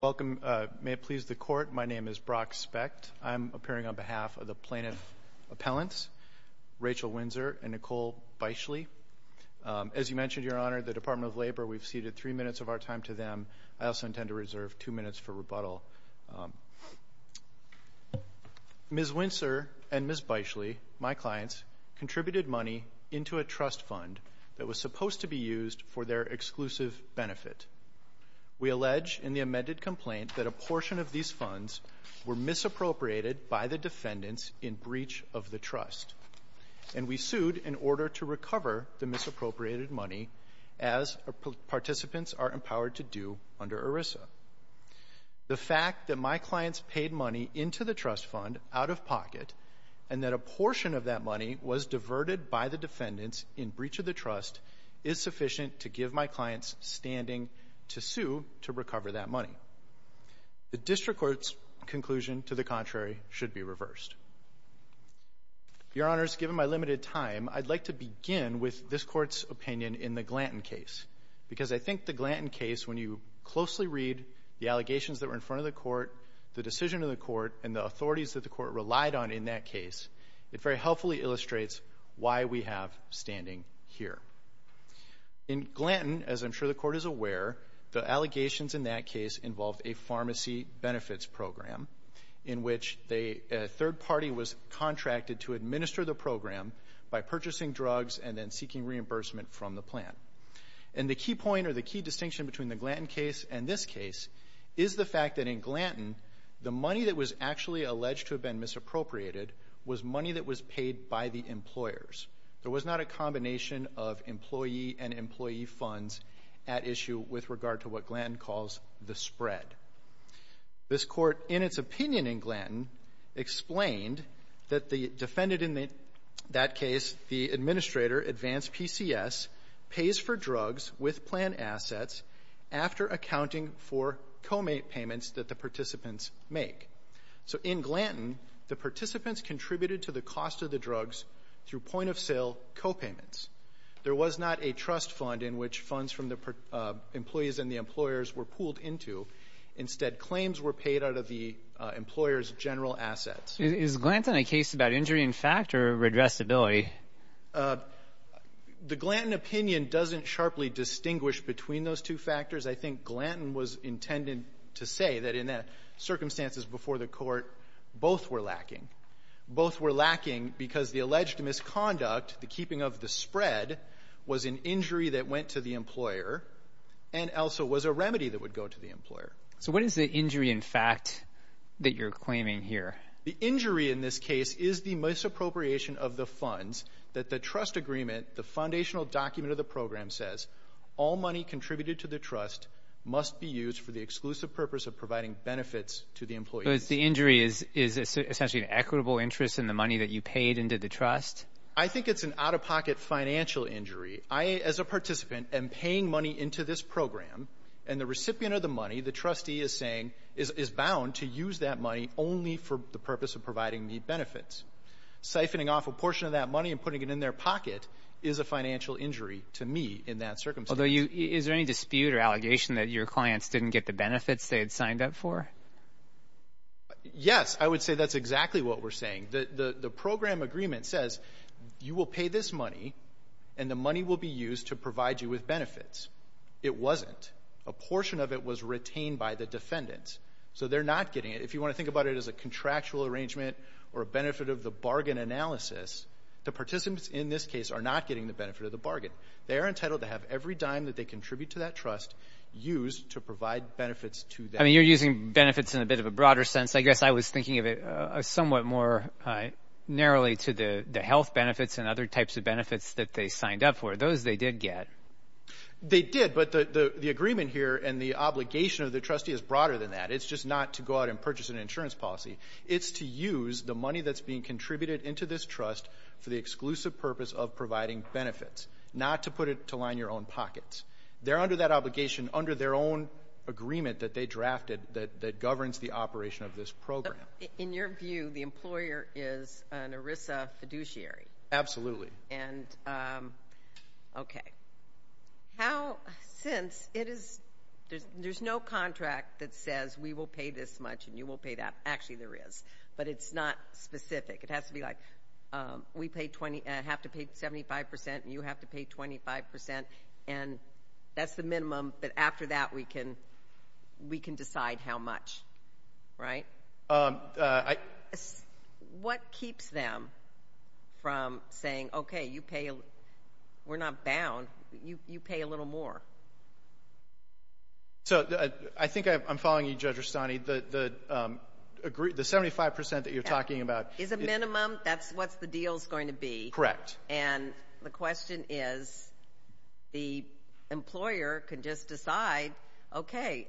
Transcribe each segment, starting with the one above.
Welcome. May it please the Court, my name is Brock Specht. I'm appearing on behalf of the plaintiff's appellants, Rachel Winsor and Nicole Beischle. As you mentioned, Your Honor, the Department of Labor, we've ceded three minutes of our time to them. I also intend to reserve two minutes for rebuttal. Ms. Winsor and Ms. Beischle, my clients, contributed money into a trust fund that was supposed to be used for their exclusive benefit. We allege in the amended complaint that a portion of these funds were misappropriated by the defendants in breach of the trust, and we sued in order to recover the misappropriated money as participants are empowered to do under ERISA. The fact that my clients paid money into the trust fund out of pocket, and that a portion of that money was diverted by the defendants in breach of the trust, is sufficient to give my clients standing to sue to recover that money. The District Court's conclusion, to the contrary, should be reversed. Your Honors, given my limited time, I'd like to begin with this Court's opinion in the Glanton case, because I think the Glanton case, when you closely read the allegations that were in front of the Court, the decision of the Court, and the authorities that the Court relied on in that case, it very helpfully illustrates why we have standing here. In Glanton, as I'm sure the Court is aware, the allegations in that case involved a pharmacy benefits program, in which a third party was contracted to administer the program by purchasing drugs and then seeking reimbursement from the plant. And the key point, or the key distinction between the Glanton case and this case, is the fact that in Glanton, the money that was actually alleged to have been misappropriated was money that was paid by the employers. There was not a combination of employee and employee funds at issue with regard to what Glanton calls the spread. This Court, in its opinion in Glanton, explained that the defendant in that case, the administrator, Advanced PCS, pays for drugs with plant assets after accounting for co-payments that the participants make. So in Glanton, the participants contributed to the cost of the drugs through point-of-sale co-payments. There was not a trust fund in which funds from the employees and the employers were pooled into. Instead, claims were paid out of the employers' general assets. Is Glanton a case about injury in fact, or redressability? The Glanton opinion doesn't sharply distinguish between those two factors. I think Glanton was intended to say that in the circumstances before the Court, both were lacking. Both were lacking because the alleged misconduct, the keeping of the spread, was an injury that went to the employer, and also was a remedy that would go to the employer. So what is the injury in fact that you're claiming here? The injury in this case is the misappropriation of the funds that the trust agreement, the purpose of providing benefits to the employees. The injury is essentially an equitable interest in the money that you paid into the trust? I think it's an out-of-pocket financial injury. I, as a participant, am paying money into this program, and the recipient of the money, the trustee is saying, is bound to use that money only for the purpose of providing the benefits. Siphoning off a portion of that money and putting it in their pocket is a financial injury to me in that circumstance. Although you, is there any dispute or allegation that your clients didn't get the benefits they had signed up for? Yes. I would say that's exactly what we're saying. The program agreement says, you will pay this money, and the money will be used to provide you with benefits. It wasn't. A portion of it was retained by the defendants. So they're not getting it. If you want to think about it as a contractual arrangement or a benefit of the bargain analysis, the participants in this case are not getting the benefit of the bargain. They are entitled to have every dime that they contribute to that trust used to provide benefits to them. I mean, you're using benefits in a bit of a broader sense. I guess I was thinking of it somewhat more narrowly to the health benefits and other types of benefits that they signed up for. Those they did get. They did, but the agreement here and the obligation of the trustee is broader than that. It's just not to go out and purchase an insurance policy. It's to use the money that's being contributed into this trust for the exclusive purpose of providing benefits, not to put it to line your own pockets. They're under that obligation under their own agreement that they drafted that governs the operation of this program. In your view, the employer is an ERISA fiduciary. Absolutely. And, okay. How, since it is, there's no contract that says we will pay this much and you will pay that. Actually, there is. But it's not specific. It has to be like, we pay, have to pay 75 percent and you have to pay 25 percent. And that's the minimum, but after that we can, we can decide how much, right? What keeps them from saying, okay, you pay, we're not bound, you pay a little more? So I think I'm following you, Judge Rustani. The 75 percent that you're talking about Is a minimum. That's what the deal's going to be. Correct. And the question is, the employer can just decide, okay,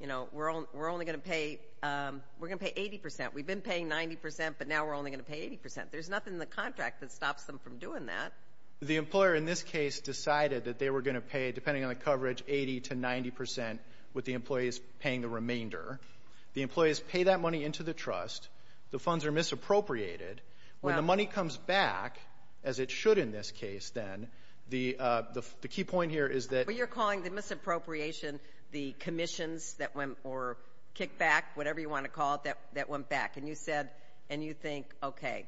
you know, we're only going to pay, we're going to pay 80 percent. We've been paying 90 percent, but now we're only going to pay 80 percent. There's nothing in the contract that stops them from doing that. The employer, in this case, decided that they were going to pay, depending on the coverage, 80 to 90 percent with the employees paying the remainder. The employees pay that money into the trust. The funds are misappropriated. When the money comes back, as it should in this case then, the key point here is that But you're calling the misappropriation the commissions that went, or kickback, whatever you want to call it, that went back. And you said, and you think, okay,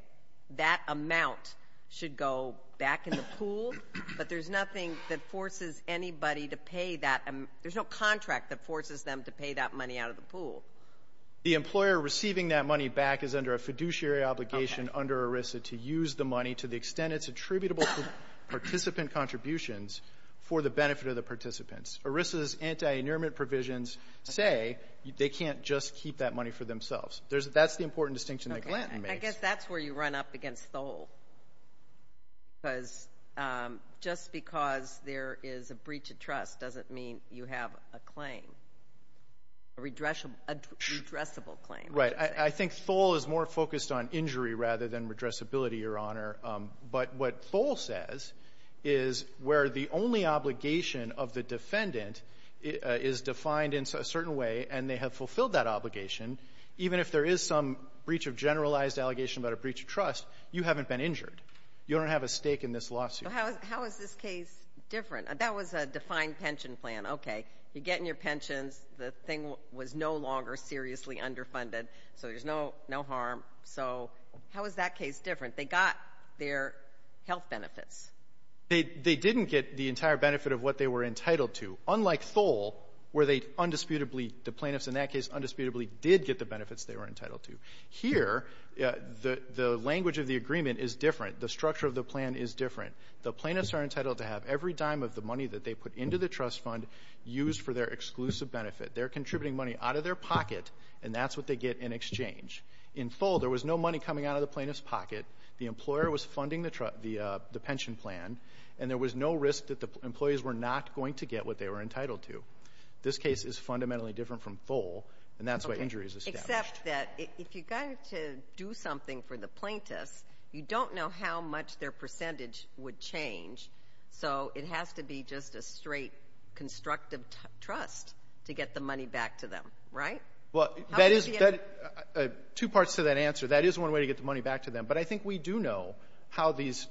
that amount should go back in the pool, but there's nothing that forces anybody to pay that, there's no contract The employer receiving that money back is under a fiduciary obligation under ERISA to use the money to the extent it's attributable to participant contributions for the benefit of the participants. ERISA's anti-annealment provisions say they can't just keep that money for themselves. That's the important distinction that Glanton makes. I guess that's where you run up against Thole, because just because there is a breach of Right. I think Thole is more focused on injury rather than redressability, Your Honor. But what Thole says is where the only obligation of the defendant is defined in a certain way, and they have fulfilled that obligation, even if there is some breach of generalized allegation about a breach of trust, you haven't been injured. You don't have a stake in this lawsuit. How is this case different? That was a defined pension plan. Okay. You're getting your pensions. The thing was no longer seriously underfunded, so there's no harm. So how is that case different? They got their health benefits. They didn't get the entire benefit of what they were entitled to, unlike Thole, where they undisputably, the plaintiffs in that case, undisputably did get the benefits they were entitled to. Here, the language of the agreement is different. The structure of the plan is different. The plaintiffs are entitled to have every dime of the money that they are contributing money out of their pocket, and that's what they get in exchange. In Thole, there was no money coming out of the plaintiff's pocket. The employer was funding the pension plan, and there was no risk that the employees were not going to get what they were entitled to. This case is fundamentally different from Thole, and that's why injury is established. Except that if you got to do something for the plaintiffs, you don't know how much their to get the money back to them, right? Two parts to that answer. That is one way to get the money back to them, but I think we do know how these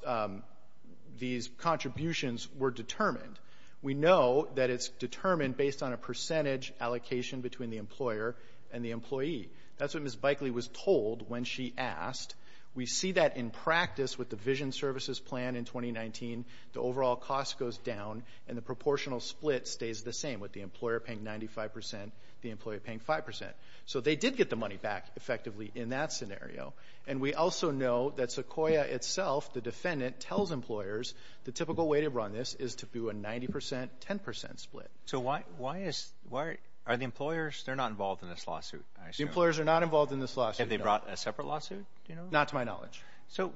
contributions were determined. We know that it's determined based on a percentage allocation between the employer and the employee. That's what Ms. Bikley was told when she asked. We see that in practice with the Vision Services Plan in 2019. The overall cost goes down, and the proportional split stays the same, with the employer paying 95%, the employee paying 5%. So they did get the money back, effectively, in that scenario. And we also know that Sequoia itself, the defendant, tells employers the typical way to run this is to do a 90%-10% split. So why is, why, are the employers, they're not involved in this lawsuit, I assume? Employers are not involved in this lawsuit, no. Have they brought a separate lawsuit, do you know? Not to my knowledge. So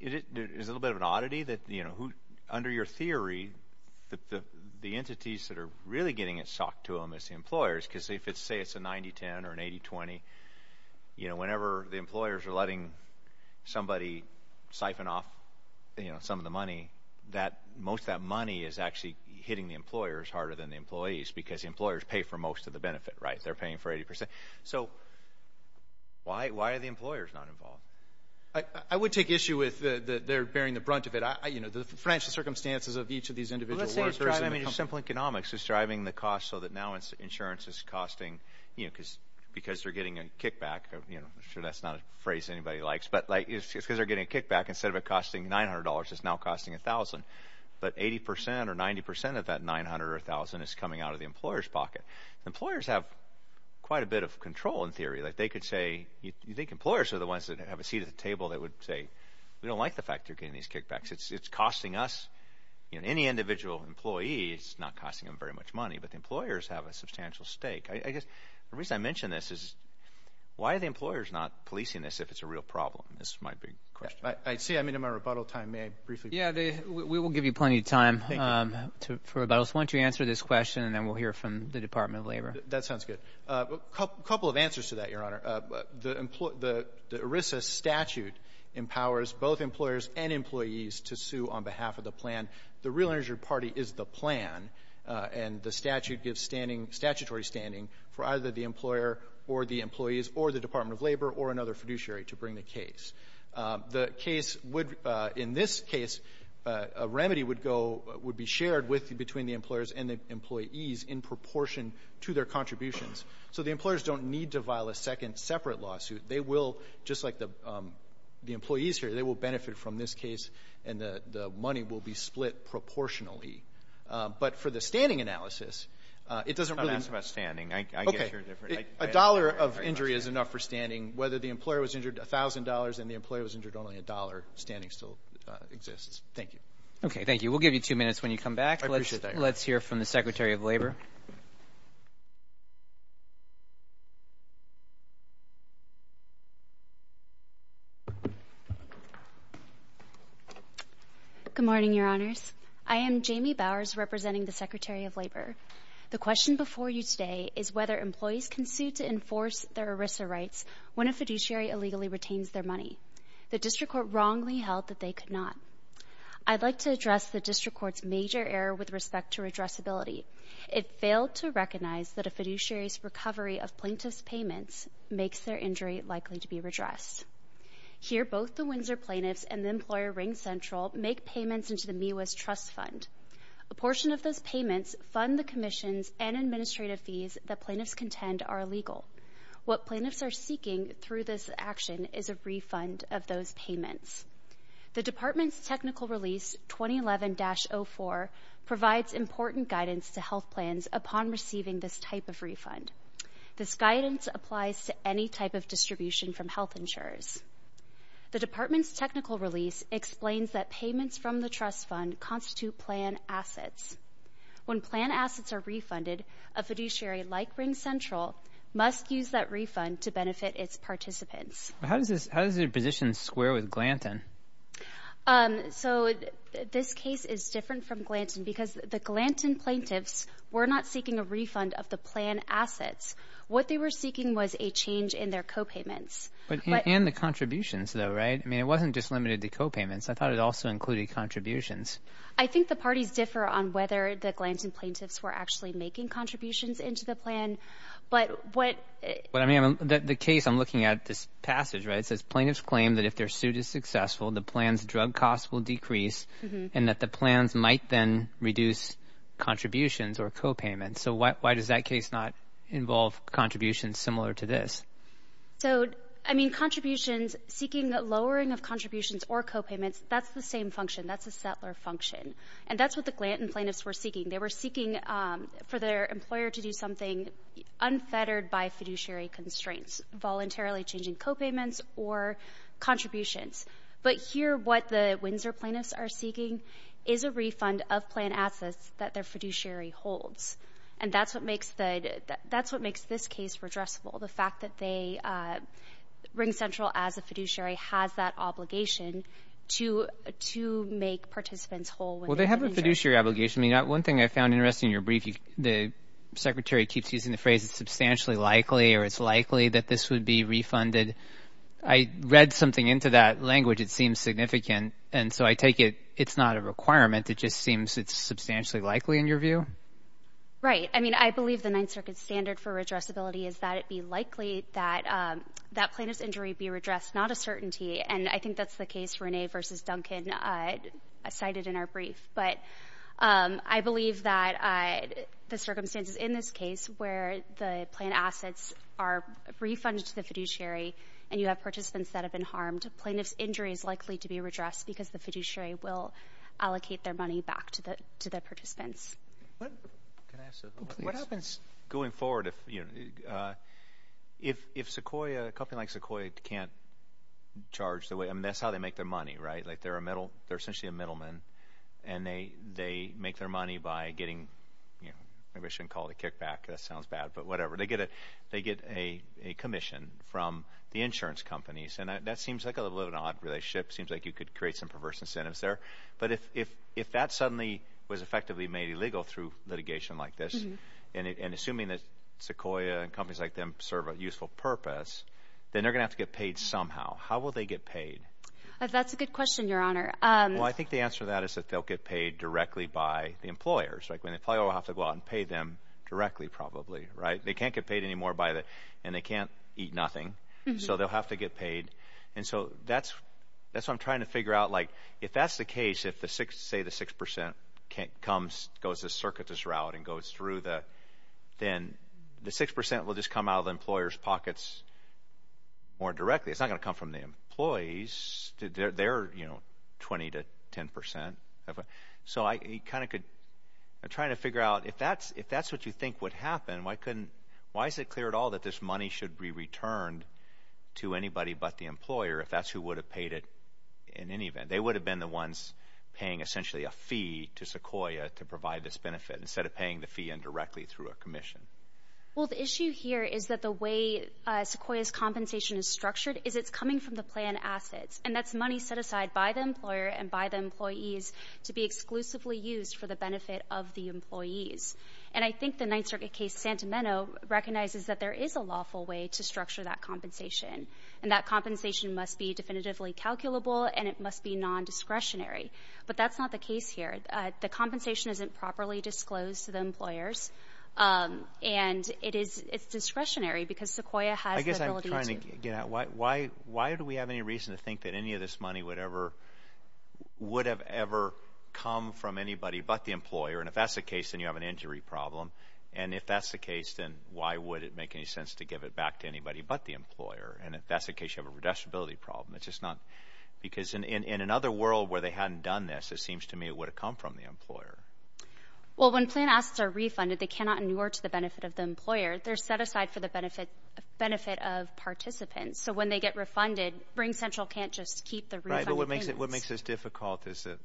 is it, is it a little bit of an oddity that, you know, who, under your theory, that the entities that are really getting it socked to them is the employers, because if it's, say it's a 90-10 or an 80-20, you know, whenever the employers are letting somebody siphon off, you know, some of the money, that, most of that money is actually hitting the employers harder than the employees, because employers pay for most of the benefit, right? They're paying for 80%. So why, why are the employers not involved? I, I would take issue with the, the, they're bearing the brunt of it. I, I, you know, the financial circumstances of each of these individual workers and the company. Well, let's say you're driving, I mean, your simple economics is driving the cost so that now insurance is costing, you know, because, because they're getting a kickback, you know, I'm sure that's not a phrase anybody likes, but like, it's because they're getting a kickback instead of it costing $900, it's now costing $1,000. But 80% or 90% of that $900 or $1,000 is coming out of the employer's pocket. Employers have quite a bit of control, in theory. Like, they could say, you think employers are the ones that have a seat at the table that would say, we don't like the fact you're getting these kickbacks. It's, it's costing us, you know, any individual employee, it's not costing them very much money. But the employers have a substantial stake. I, I guess the reason I mention this is why are the employers not policing this if it's a real problem? This is my big question. I, I see. I'm into my rebuttal time. May I briefly? Yeah, they, we, we will give you plenty of time to, for rebuttals. Why don't you answer this question and then we'll hear from the Department of Labor. That sounds good. A couple of answers to that, Your Honor. The ERISA statute empowers both employers and employees to sue on behalf of the plan. The Real Interest Party is the plan and the statute gives standing, statutory standing for either the employer or the employees or the Department of Labor or another fiduciary to bring the case. The case would, in this case, a remedy would go, would be shared with, between the employers and the employees in proportion to their contributions. So the employers don't need to file a second separate lawsuit. They will, just like the, the employees here, they will benefit from this case and the, the money will be split proportionally. But for the standing analysis, it doesn't really... Don't ask about standing. I, I guess you're different. Okay. A dollar of injury is enough for standing. Whether the employer was injured a thousand dollars and the employer was injured only a dollar, standing still exists. Thank you. Okay. Thank you. We'll give you two minutes when you come back. I appreciate that, Your Honor. All right. Let's hear from the Secretary of Labor. Good morning, Your Honors. I am Jamie Bowers, representing the Secretary of Labor. The question before you today is whether employees can sue to enforce their ERISA rights when a fiduciary illegally retains their money. The district court wrongly held that they could not. I'd like to address the district court's major error with respect to redressability. It failed to recognize that a fiduciary's recovery of plaintiff's payments makes their injury likely to be redressed. Here, both the Windsor plaintiffs and the employer RingCentral make payments into the MIWA's trust fund. A portion of those payments fund the commissions and administrative fees that plaintiffs contend are illegal. What plaintiffs are seeking through this action is a refund of those payments. The department's technical release, 2011-04, provides important guidance to health plans upon receiving this type of refund. This guidance applies to any type of distribution from health insurers. The department's technical release explains that payments from the trust fund constitute plan assets. When plan assets are How does your position square with Glanton? This case is different from Glanton because the Glanton plaintiffs were not seeking a refund of the plan assets. What they were seeking was a change in their co-payments. And the contributions though, right? I mean, it wasn't just limited to co-payments. I thought it also included contributions. I think the parties differ on whether the Glanton plaintiffs were actually making contributions into the plan, but what... The case I'm looking at, this passage, right? It says plaintiffs claim that if their suit is successful, the plan's drug costs will decrease and that the plans might then reduce contributions or co-payments. So why does that case not involve contributions similar to this? So, I mean, contributions, seeking a lowering of contributions or co-payments, that's the same function. That's a settler function. And that's what the Glanton plaintiffs were seeking. They were seeking for their employer to do something unfettered by fiduciary constraints, voluntarily changing co-payments or contributions. But here, what the Windsor plaintiffs are seeking is a refund of plan assets that their fiduciary holds. And that's what makes this case redressable. The fact that RingCentral, as a fiduciary, has that obligation to make participants whole. Well, they have a fiduciary obligation. I mean, one thing I found interesting in your brief, the secretary keeps using the phrase, it's substantially likely or it's likely that this would be refunded. I read something into that language. It seems significant. And so I take it, it's not a requirement. It just seems it's substantially likely in your view? Right. I mean, I believe the Ninth Circuit standard for redressability is that it be likely that that plaintiff's injury be redressed, not a certainty. And I think that's the case, Renee versus Duncan cited in our brief. But I believe that the circumstances in this case where the plan assets are refunded to the fiduciary and you have participants that have been harmed, a plaintiff's injury is likely to be redressed because the fiduciary will allocate their money back to the participants. What happens going forward if Sequoia, a company like Sequoia can't charge the way, that's how they make their money, right? Like they're a middle, they're essentially a middleman and they make their money by getting, maybe I shouldn't call it a kickback, that sounds bad, but whatever. They get a commission from the insurance companies. And that seems like a little odd relationship. Seems like you could create some perverse incentives there. But if that suddenly was effectively made illegal through litigation like this and assuming that Sequoia and companies like them serve a useful purpose, then they're going to have to get paid somehow. How will they get paid? That's a good question, your honor. Well, I think the answer to that is that they'll get paid directly by the employers, like when they probably will have to go out and pay them directly, probably, right? They can't get paid anymore by the, and they can't eat nothing. So they'll have to get paid. And so that's, that's what I'm trying to figure out. Like, if that's the case, if the six, say the 6% comes, goes the circuitous route and goes through the, then the 6% will just come out of the employer's pockets more directly. It's not going to come from the employees. They're, you know, 20 to 10%. So I kind of could, I'm trying to figure out if that's, if that's what you think would happen, why couldn't, why is it clear at all that this money should be returned to anybody but the employer if that's who would have paid it in any event, they would have been the ones paying a fee to Sequoia to provide this benefit instead of paying the fee indirectly through a commission. Well, the issue here is that the way Sequoia's compensation is structured is it's coming from the plan assets and that's money set aside by the employer and by the employees to be exclusively used for the benefit of the employees. And I think the Ninth Circuit case, Santa Mena recognizes that there is a lawful way to structure that compensation and that compensation must be the compensation isn't properly disclosed to the employers. And it is, it's discretionary because Sequoia has the ability to. I guess I'm trying to get at why, why, why do we have any reason to think that any of this money would ever, would have ever come from anybody but the employer? And if that's the case, then you have an injury problem. And if that's the case, then why would it make any sense to give it back to anybody but the employer? And if that's the case, you have a redistributability problem. It's just not, because in, in, in another world where they hadn't done this, it seems to me it would have come from the employer. Well, when plan assets are refunded, they cannot inure to the benefit of the employer. They're set aside for the benefit, benefit of participants. So when they get refunded, RingCentral can't just keep the refund. Right, but what makes it, what makes this difficult is that,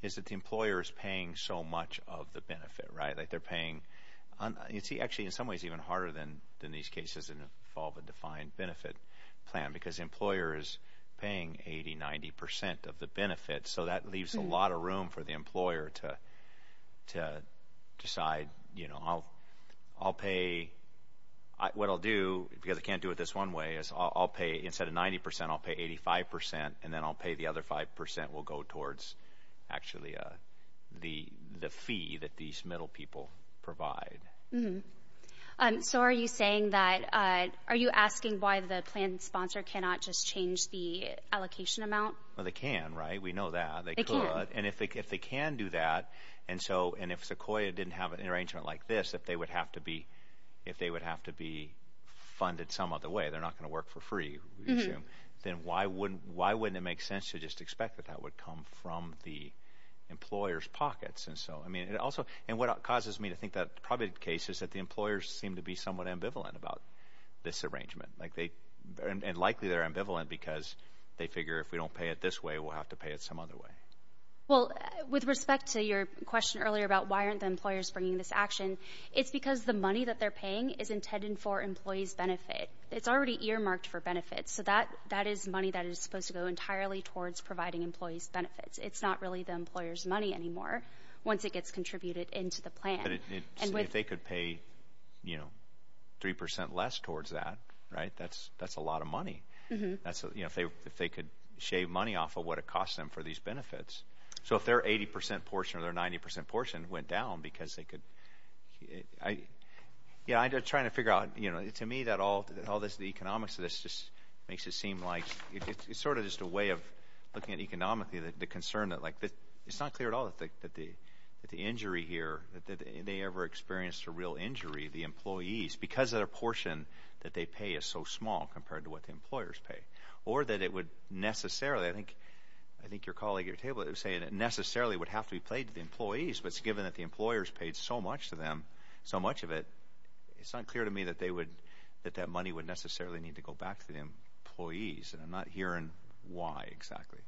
is that the employer is paying so much of the benefit, right? Like they're paying, you see actually in some ways even harder than, than these cases that involve a defined benefit plan, because the employer is paying 80, 90 percent of the benefit. So that leaves a lot of room for the employer to, to decide, you know, I'll, I'll pay, what I'll do, because I can't do it this one way, is I'll pay, instead of 90 percent, I'll pay 85 percent, and then I'll pay the other 5 percent will go towards actually the, the fee that these middle people provide. So are you saying that, are you asking why the plan sponsor cannot just change the allocation amount? Well, they can, right? We know that. They can. And if they, if they can do that, and so, and if Sequoia didn't have an arrangement like this, if they would have to be, if they would have to be funded some other way, they're not going to work for free, then why wouldn't, why wouldn't it make sense to just expect that that would come from the And what causes me to think that probably the case is that the employers seem to be somewhat ambivalent about this arrangement. Like they, and likely they're ambivalent because they figure if we don't pay it this way, we'll have to pay it some other way. Well, with respect to your question earlier about why aren't the employers bringing this action, it's because the money that they're paying is intended for employees' benefit. It's already earmarked for benefits. So that, that is money that is supposed to go entirely towards providing employees' benefits. It's not really the employer's money anymore once it gets contributed into the plan. If they could pay, you know, 3% less towards that, right? That's, that's a lot of money. That's, you know, if they, if they could shave money off of what it costs them for these benefits. So if their 80% portion or their 90% portion went down because they could, I, yeah, I'm just trying to figure out, you know, to me that all, all this, the economics of this just makes it seem like it's sort of just a way of looking at economically the concern that, like, that it's not clear at all that the, that the, that the injury here, that they ever experienced a real injury, the employees, because their portion that they pay is so small compared to what the employers pay. Or that it would necessarily, I think, I think your colleague at your table is saying it necessarily would have to be paid to the employees, but it's given that the employers paid so much to them, so much of it, it's unclear to me that they would, that that money would necessarily need to go back to the employees, and I'm not hearing why exactly.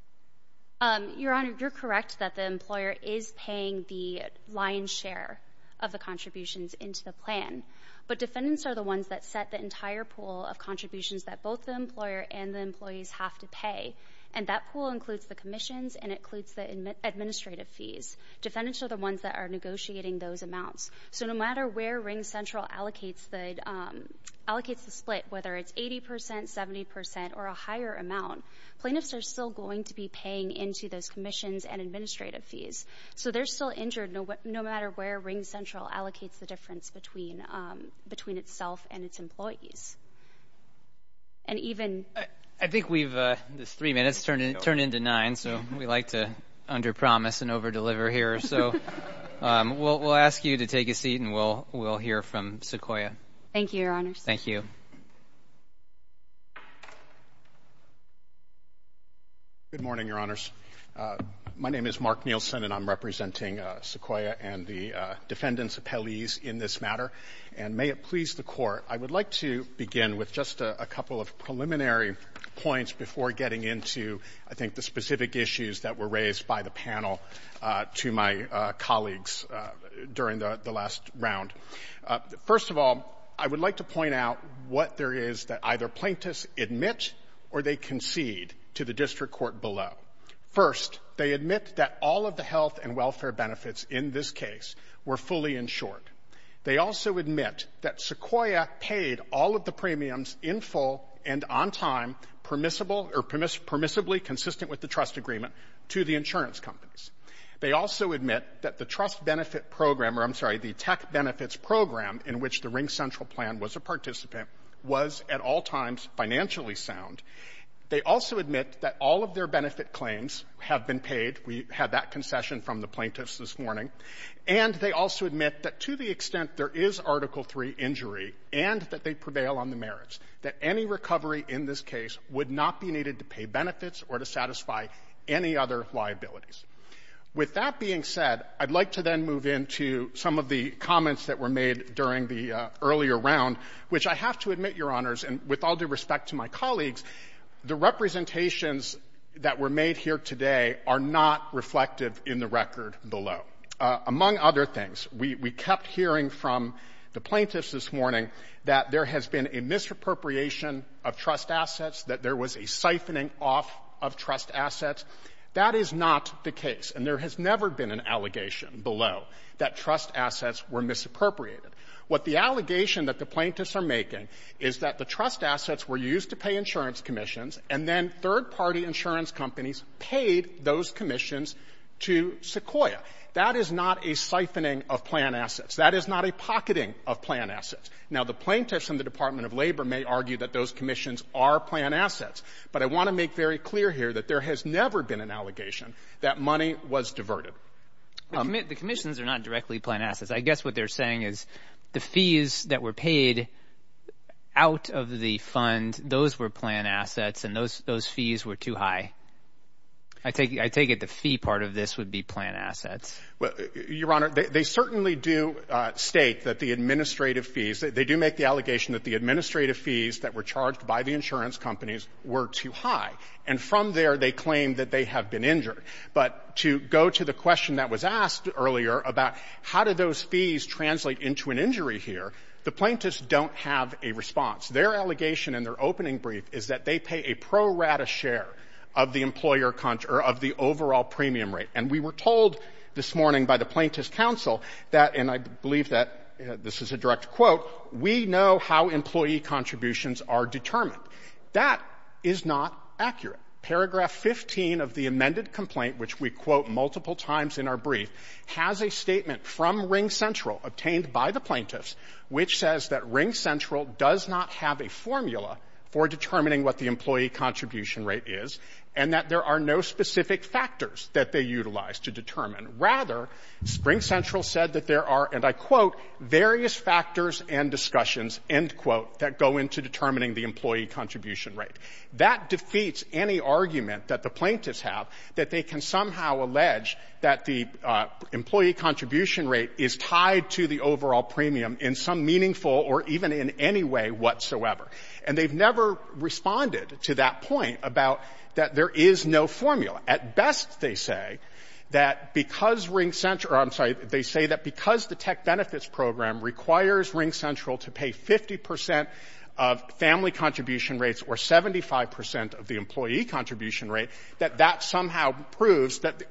Your Honor, you're correct that the employer is paying the lion's share of the contributions into the plan, but defendants are the ones that set the entire pool of contributions that both the employer and the employees have to pay, and that pool includes the commissions and includes the administrative fees. Defendants are the ones that are negotiating those amounts. So no matter where Ring Central allocates the, allocates the split, whether it's 80 percent, 70 percent, or a higher amount, plaintiffs are still going to be paying into those commissions and administrative fees. So they're still injured no matter where Ring Central allocates the difference between, between itself and its employees. And even... I think we've, this three minutes turned into nine, so we like to under-promise and over-deliver here, so we'll, we'll ask you to take a seat, and we'll, we'll hear from Sequoia. Thank you, Your Honors. Thank you. Good morning, Your Honors. My name is Mark Nielsen, and I'm representing Sequoia and the defendants' appellees in this matter, and may it please the Court, I would like to begin with just a couple of preliminary points before getting into, I think, the specific issues that were raised by my colleagues during the last round. First of all, I would like to point out what there is that either plaintiffs admit or they concede to the District Court below. First, they admit that all of the health and welfare benefits in this case were fully insured. They also admit that Sequoia paid all of the premiums in full and on time permissible, or permissibly consistent with the trust agreement to the insurance companies. They also admit that the trust benefit program, or I'm sorry, the tech benefits program in which the Ring Central Plan was a participant, was at all times financially sound. They also admit that all of their benefit claims have been paid. We had that concession from the plaintiffs this morning. And they also admit that to the extent there is Article III injury, and that they prevail on the merits, that any recovery in this case would not be needed to pay benefits or to satisfy any other liabilities. With that being said, I'd like to then move into some of the comments that were made during the earlier round, which I have to admit, Your Honors, and with all due respect to my colleagues, the representations that were made here today are not reflective in the record below. Among other things, we kept hearing from the plaintiffs this morning that there has been a misappropriation of trust assets, that there was a siphoning off of trust assets. That is not the case. And there has never been an allegation below that trust assets were misappropriated. What the allegation that the plaintiffs are making is that the trust assets were used to pay insurance commissions, and then third-party insurance companies paid those commissions to Sequoia. That is not a siphoning of planned assets. That is not a pocketing of planned assets. Now, the plaintiffs in the Department of Labor may argue that those commissions are planned assets, but I want to make very clear here that there has never been an allegation that money was diverted. The commissions are not directly planned assets. I guess what they're saying is the fees that were paid out of the fund, those were planned assets, and those fees were too high. I take it the fee part of this would be planned assets. Your Honor, they certainly do state that the administrative fees, they do make the allegation that the administrative fees that were charged by the insurance companies were too high. And from there, they claim that they have been injured. But to go to the question that was asked earlier about how do those fees translate into an injury here, the plaintiffs don't have a response. Their allegation in their opening brief is that they pay a pro share of the overall premium rate. And we were told this morning by the Plaintiffs' Counsel that, and I believe that this is a direct quote, we know how employee contributions are determined. That is not accurate. Paragraph 15 of the amended complaint, which we quote multiple times in our brief, has a statement from Ring Central obtained by the plaintiffs which says that Ring Central does not have a formula for determining what the employee contribution rate is and that there are no specific factors that they utilize to determine. Rather, Ring Central said that there are, and I quote, various factors and discussions, end quote, that go into determining the employee contribution rate. That defeats any argument that the plaintiffs have that they can somehow allege that the employee contribution rate is tied to the overall premium in some meaningful or even in any way whatsoever. And they've never responded to that point about that there is no formula. At best, they say that because Ring Central, or I'm sorry, they say that because the tech benefits program requires Ring Central to pay 50 percent of family contribution rates or 75 percent of the employee contribution rate, that that somehow proves that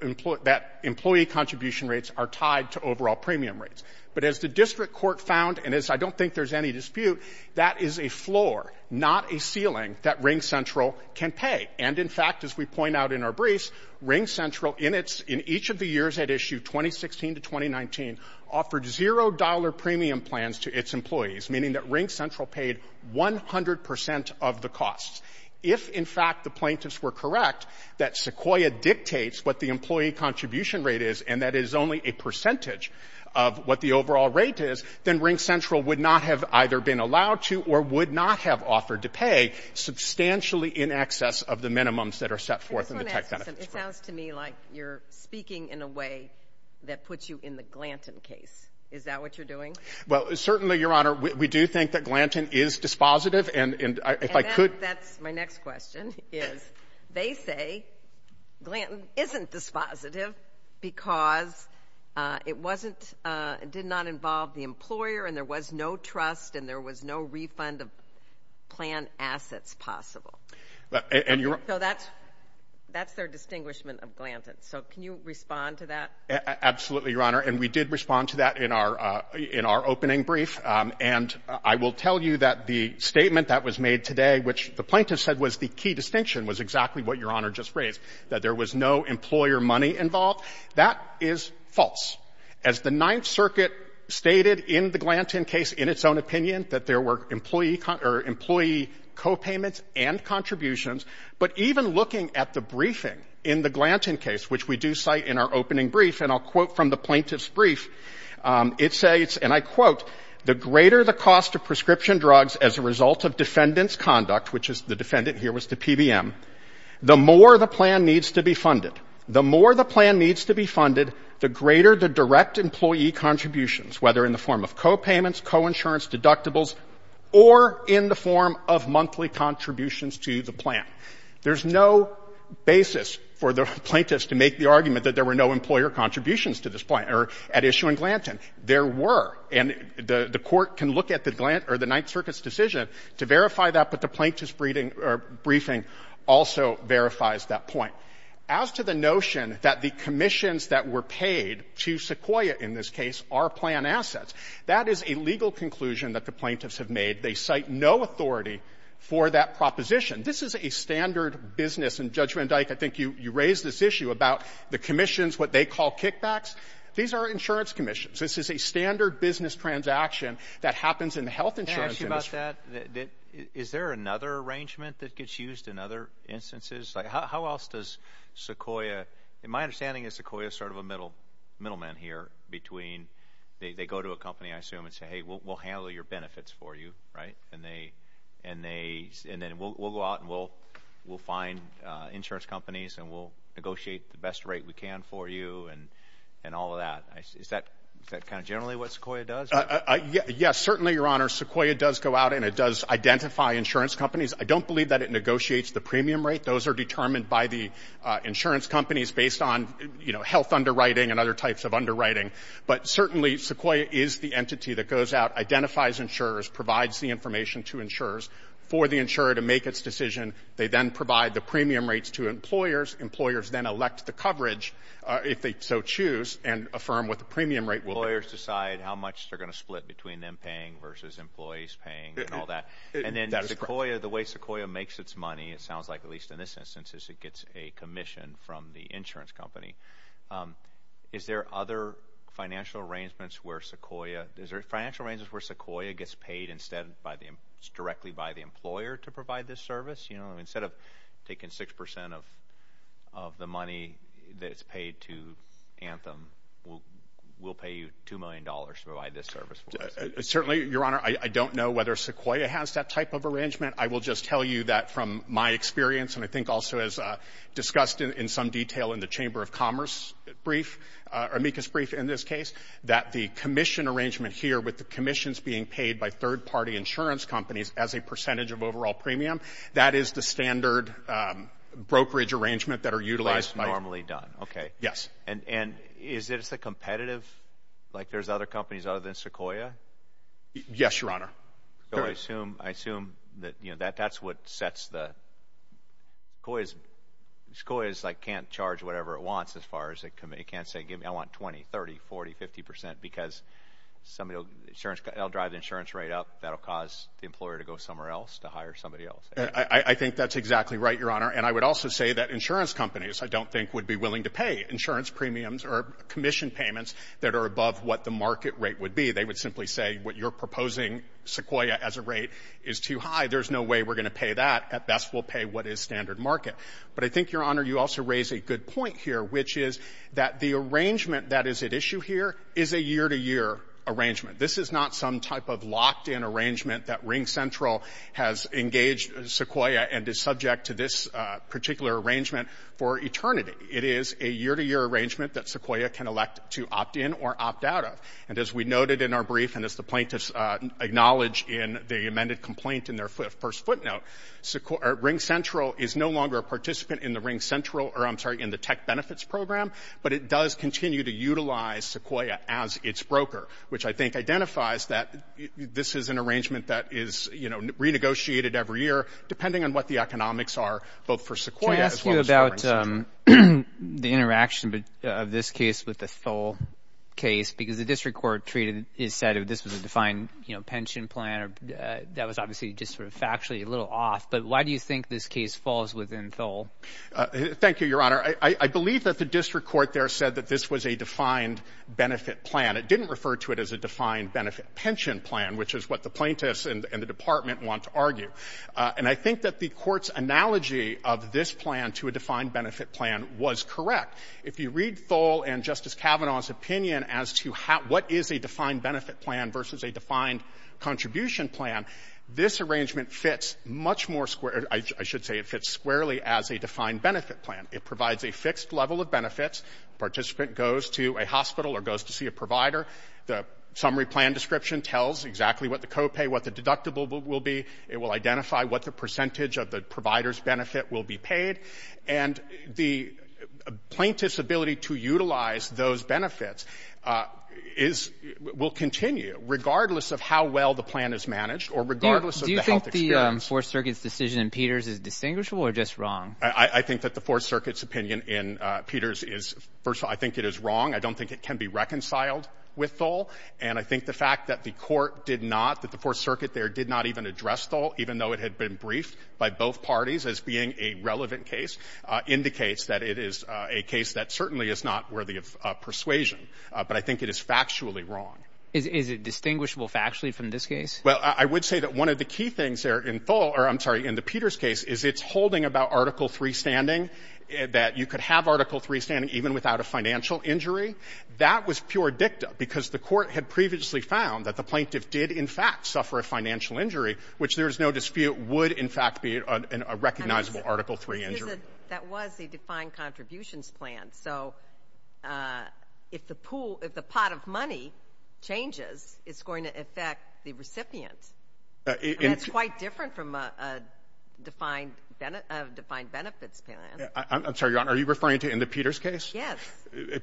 employee contribution rates are tied to overall premium rates. But as the district court found, and as I don't think there's any dispute, that is a Ring Central in its, in each of the years at issue, 2016 to 2019, offered zero dollar premium plans to its employees, meaning that Ring Central paid 100 percent of the costs. If, in fact, the plaintiffs were correct that Sequoia dictates what the employee contribution rate is and that is only a percentage of what the overall rate is, then Ring Central would not have either been allowed to or would not have offered to pay substantially in excess of the tech benefits. It sounds to me like you're speaking in a way that puts you in the Glanton case. Is that what you're doing? Well, certainly, Your Honor, we do think that Glanton is dispositive. And if I could... That's my next question, is they say Glanton isn't dispositive because it wasn't, it did not involve the employer and there was no trust and there was no refund of plan assets possible. So that's, that's their distinguishment of Glanton. So can you respond to that? Absolutely, Your Honor. And we did respond to that in our, in our opening brief. And I will tell you that the statement that was made today, which the plaintiff said was the key distinction, was exactly what Your Honor just raised, that there was no employer money involved. That is false. As the Ninth Circuit stated in the Glanton case, in its own opinion, that there were employee co-payments and contributions. But even looking at the briefing in the Glanton case, which we do cite in our opening brief, and I'll quote from the plaintiff's brief, it says, and I quote, the greater the cost of prescription drugs as a result of defendant's conduct, which is the defendant here was to PBM, the more the plan needs to be funded. The more the plan needs to be funded, the greater the direct employee contributions, whether in the form of co-payments, co-insurance, deductibles, or in the form of monthly contributions to the plan. There's no basis for the plaintiff to make the argument that there were no employer contributions to this plan or at issue in Glanton. There were. And the Court can look at the Glanton or the Ninth Circuit's decision to verify that, but the plaintiff's briefing also verifies that point. As to the notion that the commissions that were paid to Sequoia in this case are planned to be paid on assets, that is a legal conclusion that the plaintiffs have made. They cite no authority for that proposition. This is a standard business. And, Judge Van Dyke, I think you raised this issue about the commissions, what they call kickbacks. These are insurance commissions. This is a standard business transaction that happens in the health insurance industry. Can I ask you about that? Is there another arrangement that gets used in other instances? Like, how else does Sequoia – my understanding is Sequoia is sort of a middle man here between – they go to a company, I assume, and say, hey, we'll handle your benefits for you, right? And they – and then we'll go out and we'll find insurance companies and we'll negotiate the best rate we can for you and all of that. Is that kind of generally what Sequoia does? Yes, certainly, Your Honor. Sequoia does go out and it does identify insurance companies. I don't believe that it negotiates the premium rate. Those are other types of underwriting. But certainly, Sequoia is the entity that goes out, identifies insurers, provides the information to insurers for the insurer to make its decision. They then provide the premium rates to employers. Employers then elect the coverage, if they so choose, and affirm what the premium rate will be. Employers decide how much they're going to split between them paying versus employees paying and all that. And then Sequoia, the way Sequoia makes its money, it sounds like, at least in this instance, is it gets a commission from the insurance company. Is there other financial arrangements where Sequoia – is there financial arrangements where Sequoia gets paid instead by the – directly by the employer to provide this service? You know, instead of taking 6 percent of the money that's paid to Anthem, we'll pay you $2 million to provide this service for us? Certainly, Your Honor. I don't know whether Sequoia has that type of arrangement. I think also, as discussed in some detail in the Chamber of Commerce brief, amicus brief in this case, that the commission arrangement here with the commissions being paid by third-party insurance companies as a percentage of overall premium, that is the standard brokerage arrangement that are utilized by – That's normally done. Okay. Yes. And is it as a competitive – like there's other companies other than Sequoia? Yes, Your Honor. I assume that, you know, that's what sets the – Sequoia is like can't charge whatever it wants as far as it can say, give me – I want 20, 30, 40, 50 percent because somebody will – insurance – it'll drive the insurance rate up. That'll cause the employer to go somewhere else to hire somebody else. I think that's exactly right, Your Honor. And I would also say that insurance companies, I don't think, would be willing to pay insurance premiums or commission payments that are above what the market rate would be. They would simply say, what you're proposing, Sequoia, as a rate is too high. There's no way we're going to pay that. At best, we'll pay what is standard market. But I think, Your Honor, you also raise a good point here, which is that the arrangement that is at issue here is a year-to-year arrangement. This is not some type of locked-in arrangement that RingCentral has engaged Sequoia and is subject to this particular arrangement for eternity. It is a year-to-year arrangement that Sequoia can elect to opt in or opt out of. And as we noted in our brief, and as the plaintiffs acknowledge in the amended complaint in their first footnote, RingCentral is no longer a participant in the RingCentral or, I'm sorry, in the tech benefits program, but it does continue to utilize Sequoia as its broker, which I think identifies that this is an arrangement that is, you know, renegotiated every year, depending on what the economics are, both for Sequoia as well as for RingCentral. Can I ask you about the interaction of this case with the Thole case? Because the district court is said this was a defined, you know, pension plan. That was obviously just sort of factually a little off. But why do you think this case falls within Thole? Thank you, Your Honor. I believe that the district court there said that this was a defined benefit plan. It didn't refer to it as a defined benefit pension plan, which is what the plaintiffs and the department want to argue. And I think that the court's analogy of this plan to a defined benefit plan was correct. If you read Thole and Justice Kavanaugh's opinion as to what is a defined benefit plan versus a defined contribution plan, this arrangement fits much more square — I should say it fits squarely as a defined benefit plan. It provides a fixed level of benefits. Participant goes to a hospital or goes to see a provider. The summary plan description tells exactly what the copay, what the deductible will be. It will identify what the percentage of the provider's benefit will be paid. And the plaintiff's ability to utilize those benefits is — will continue, regardless of how well the plan is managed or regardless of the health experience. Do you think the Fourth Circuit's decision in Peters is distinguishable or just wrong? I think that the Fourth Circuit's opinion in Peters is — first of all, I think it is wrong. I don't think it can be reconciled with Thole. And I think the fact that the court did not, that the Fourth Circuit there did not even address Thole, even though it had been briefed by both parties as being a relevant case, indicates that it is a case that certainly is not worthy of persuasion. But I think it is factually wrong. Is it distinguishable factually from this case? Well, I would say that one of the key things there in Thole — or, I'm sorry, in the Peters case is its holding about Article III standing, that you could have Article III standing even without a financial injury. That was pure dicta, because the court had previously found that the plaintiff did, in fact, suffer a financial injury, which there is no dispute would, in fact, be a recognizable Article III injury. That was a defined contributions plan. So if the pool, if the pot of money changes, it's going to affect the recipient. And that's quite different from a defined benefits plan. I'm sorry, Your Honor, are you referring to in the Peters case? Yes.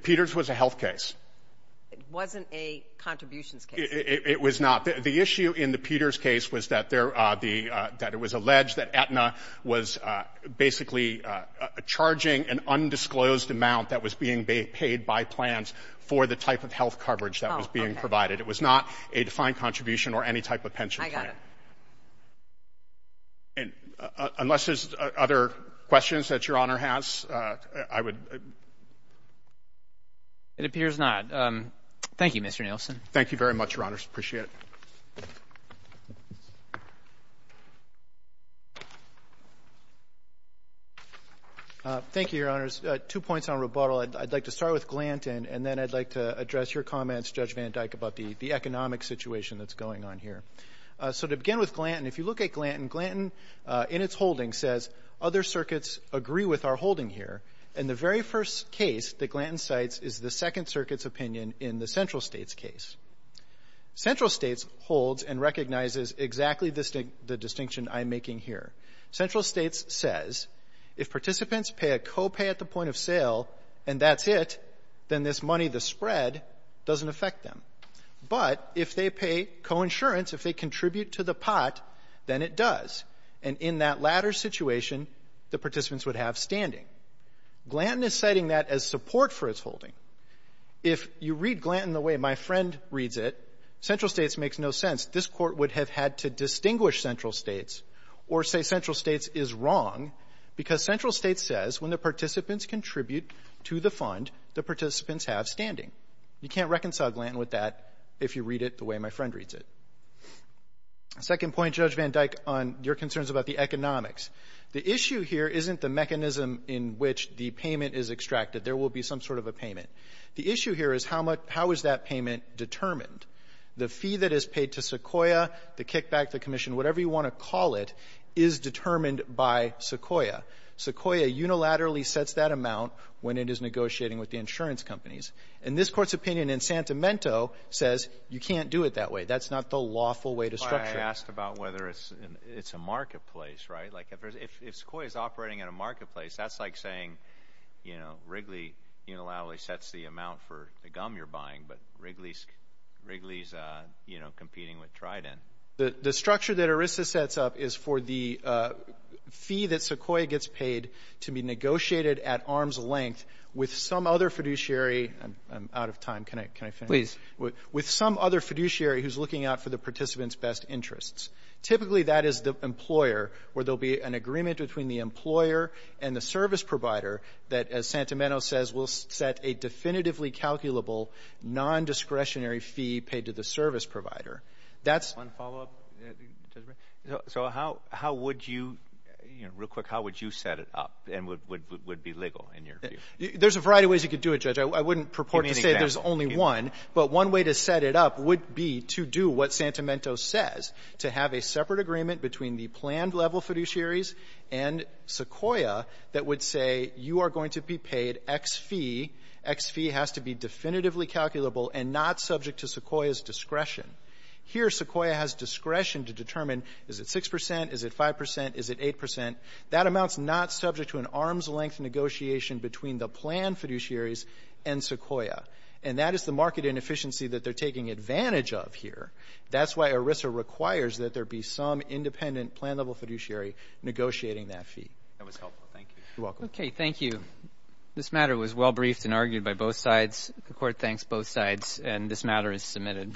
Peters was a health case. It wasn't a contributions case. It was not. The issue in the Peters case was that there — that it was alleged that Aetna was basically charging an undisclosed amount that was being paid by plans for the type of health coverage that was being provided. It was not a defined contribution or any type of pension plan. I got it. And unless there's other questions that Your Honor has, I would — It appears not. Thank you, Mr. Nielsen. Thank you very much, Your Honors. Appreciate it. Thank you, Your Honors. Two points on rebuttal. I'd like to start with Glanton, and then I'd like to address your comments, Judge Van Dyke, about the economic situation that's going on here. So to begin with Glanton, if you look at Glanton, Glanton in its holding says, other circuits agree with our holding here. And the very first case that Glanton cites is the Second Circuit's opinion in the Central States case. Central States holds and recognizes exactly the distinction I'm making here. Central States says, if participants pay a copay at the point of sale and that's it, then this money, the spread, doesn't affect them. But if they pay coinsurance, if they contribute to the pot, then it does. And in that latter situation, the participants would have standing. Glanton is citing that as support for its holding. If you read Glanton the way my friend reads it, Central States makes no sense. This Court would have had to distinguish Central States or say Central States is wrong because Central States says when the participants contribute to the fund, the participants have standing. You can't reconcile Glanton with that if you read it the way my friend reads it. Second point, Judge Van Dyke, on your concerns about the economics. The issue here isn't the mechanism in which the payment is extracted. There will be some sort of a payment. The issue here is how much, how is that payment determined? The fee that is paid to Sequoia, the kickback, the commission, whatever you want to call it, is determined by Sequoia. Sequoia unilaterally sets that amount when it is negotiating with the insurance companies. And this Court's opinion in Santimento says you can't do it that way. That's not the lawful way to structure it. I asked about whether it's a marketplace, right? Like if Sequoia is operating in a marketplace, that's like saying, you know, Wrigley unilaterally sets the amount for the gum you're buying. But Wrigley's, you know, competing with Trident. The structure that ERISA sets up is for the fee that Sequoia gets paid to be negotiated at arm's length with some other fiduciary. I'm out of time. Can I, can I finish? With some other fiduciary who's looking out for the participants' best interests. Typically, that is the employer where there'll be an agreement between the employer and the service provider that, as Santimento says, will set a definitively calculable non-discretionary fee paid to the service provider. That's one follow up. So how how would you, you know, real quick, how would you set it up and would be legal in your view? There's a variety of ways you could do it, Judge. I wouldn't purport to say there's only one. But one way to set it up would be to do what Santimento says, to have a separate agreement between the planned level fiduciaries and Sequoia that would say you are going to be paid X fee. X fee has to be definitively calculable and not subject to Sequoia's discretion. Here, Sequoia has discretion to determine, is it 6 percent? Is it 5 percent? Is it 8 percent? That amount's not subject to an arm's length negotiation between the planned fiduciaries and Sequoia. And that is the market inefficiency that they're taking advantage of here. That's why ERISA requires that there be some independent planned level fiduciary negotiating that fee. That was helpful. Thank you. You're welcome. Okay. Thank you. This matter was well briefed and argued by both sides. The court thanks both sides and this matter is submitted.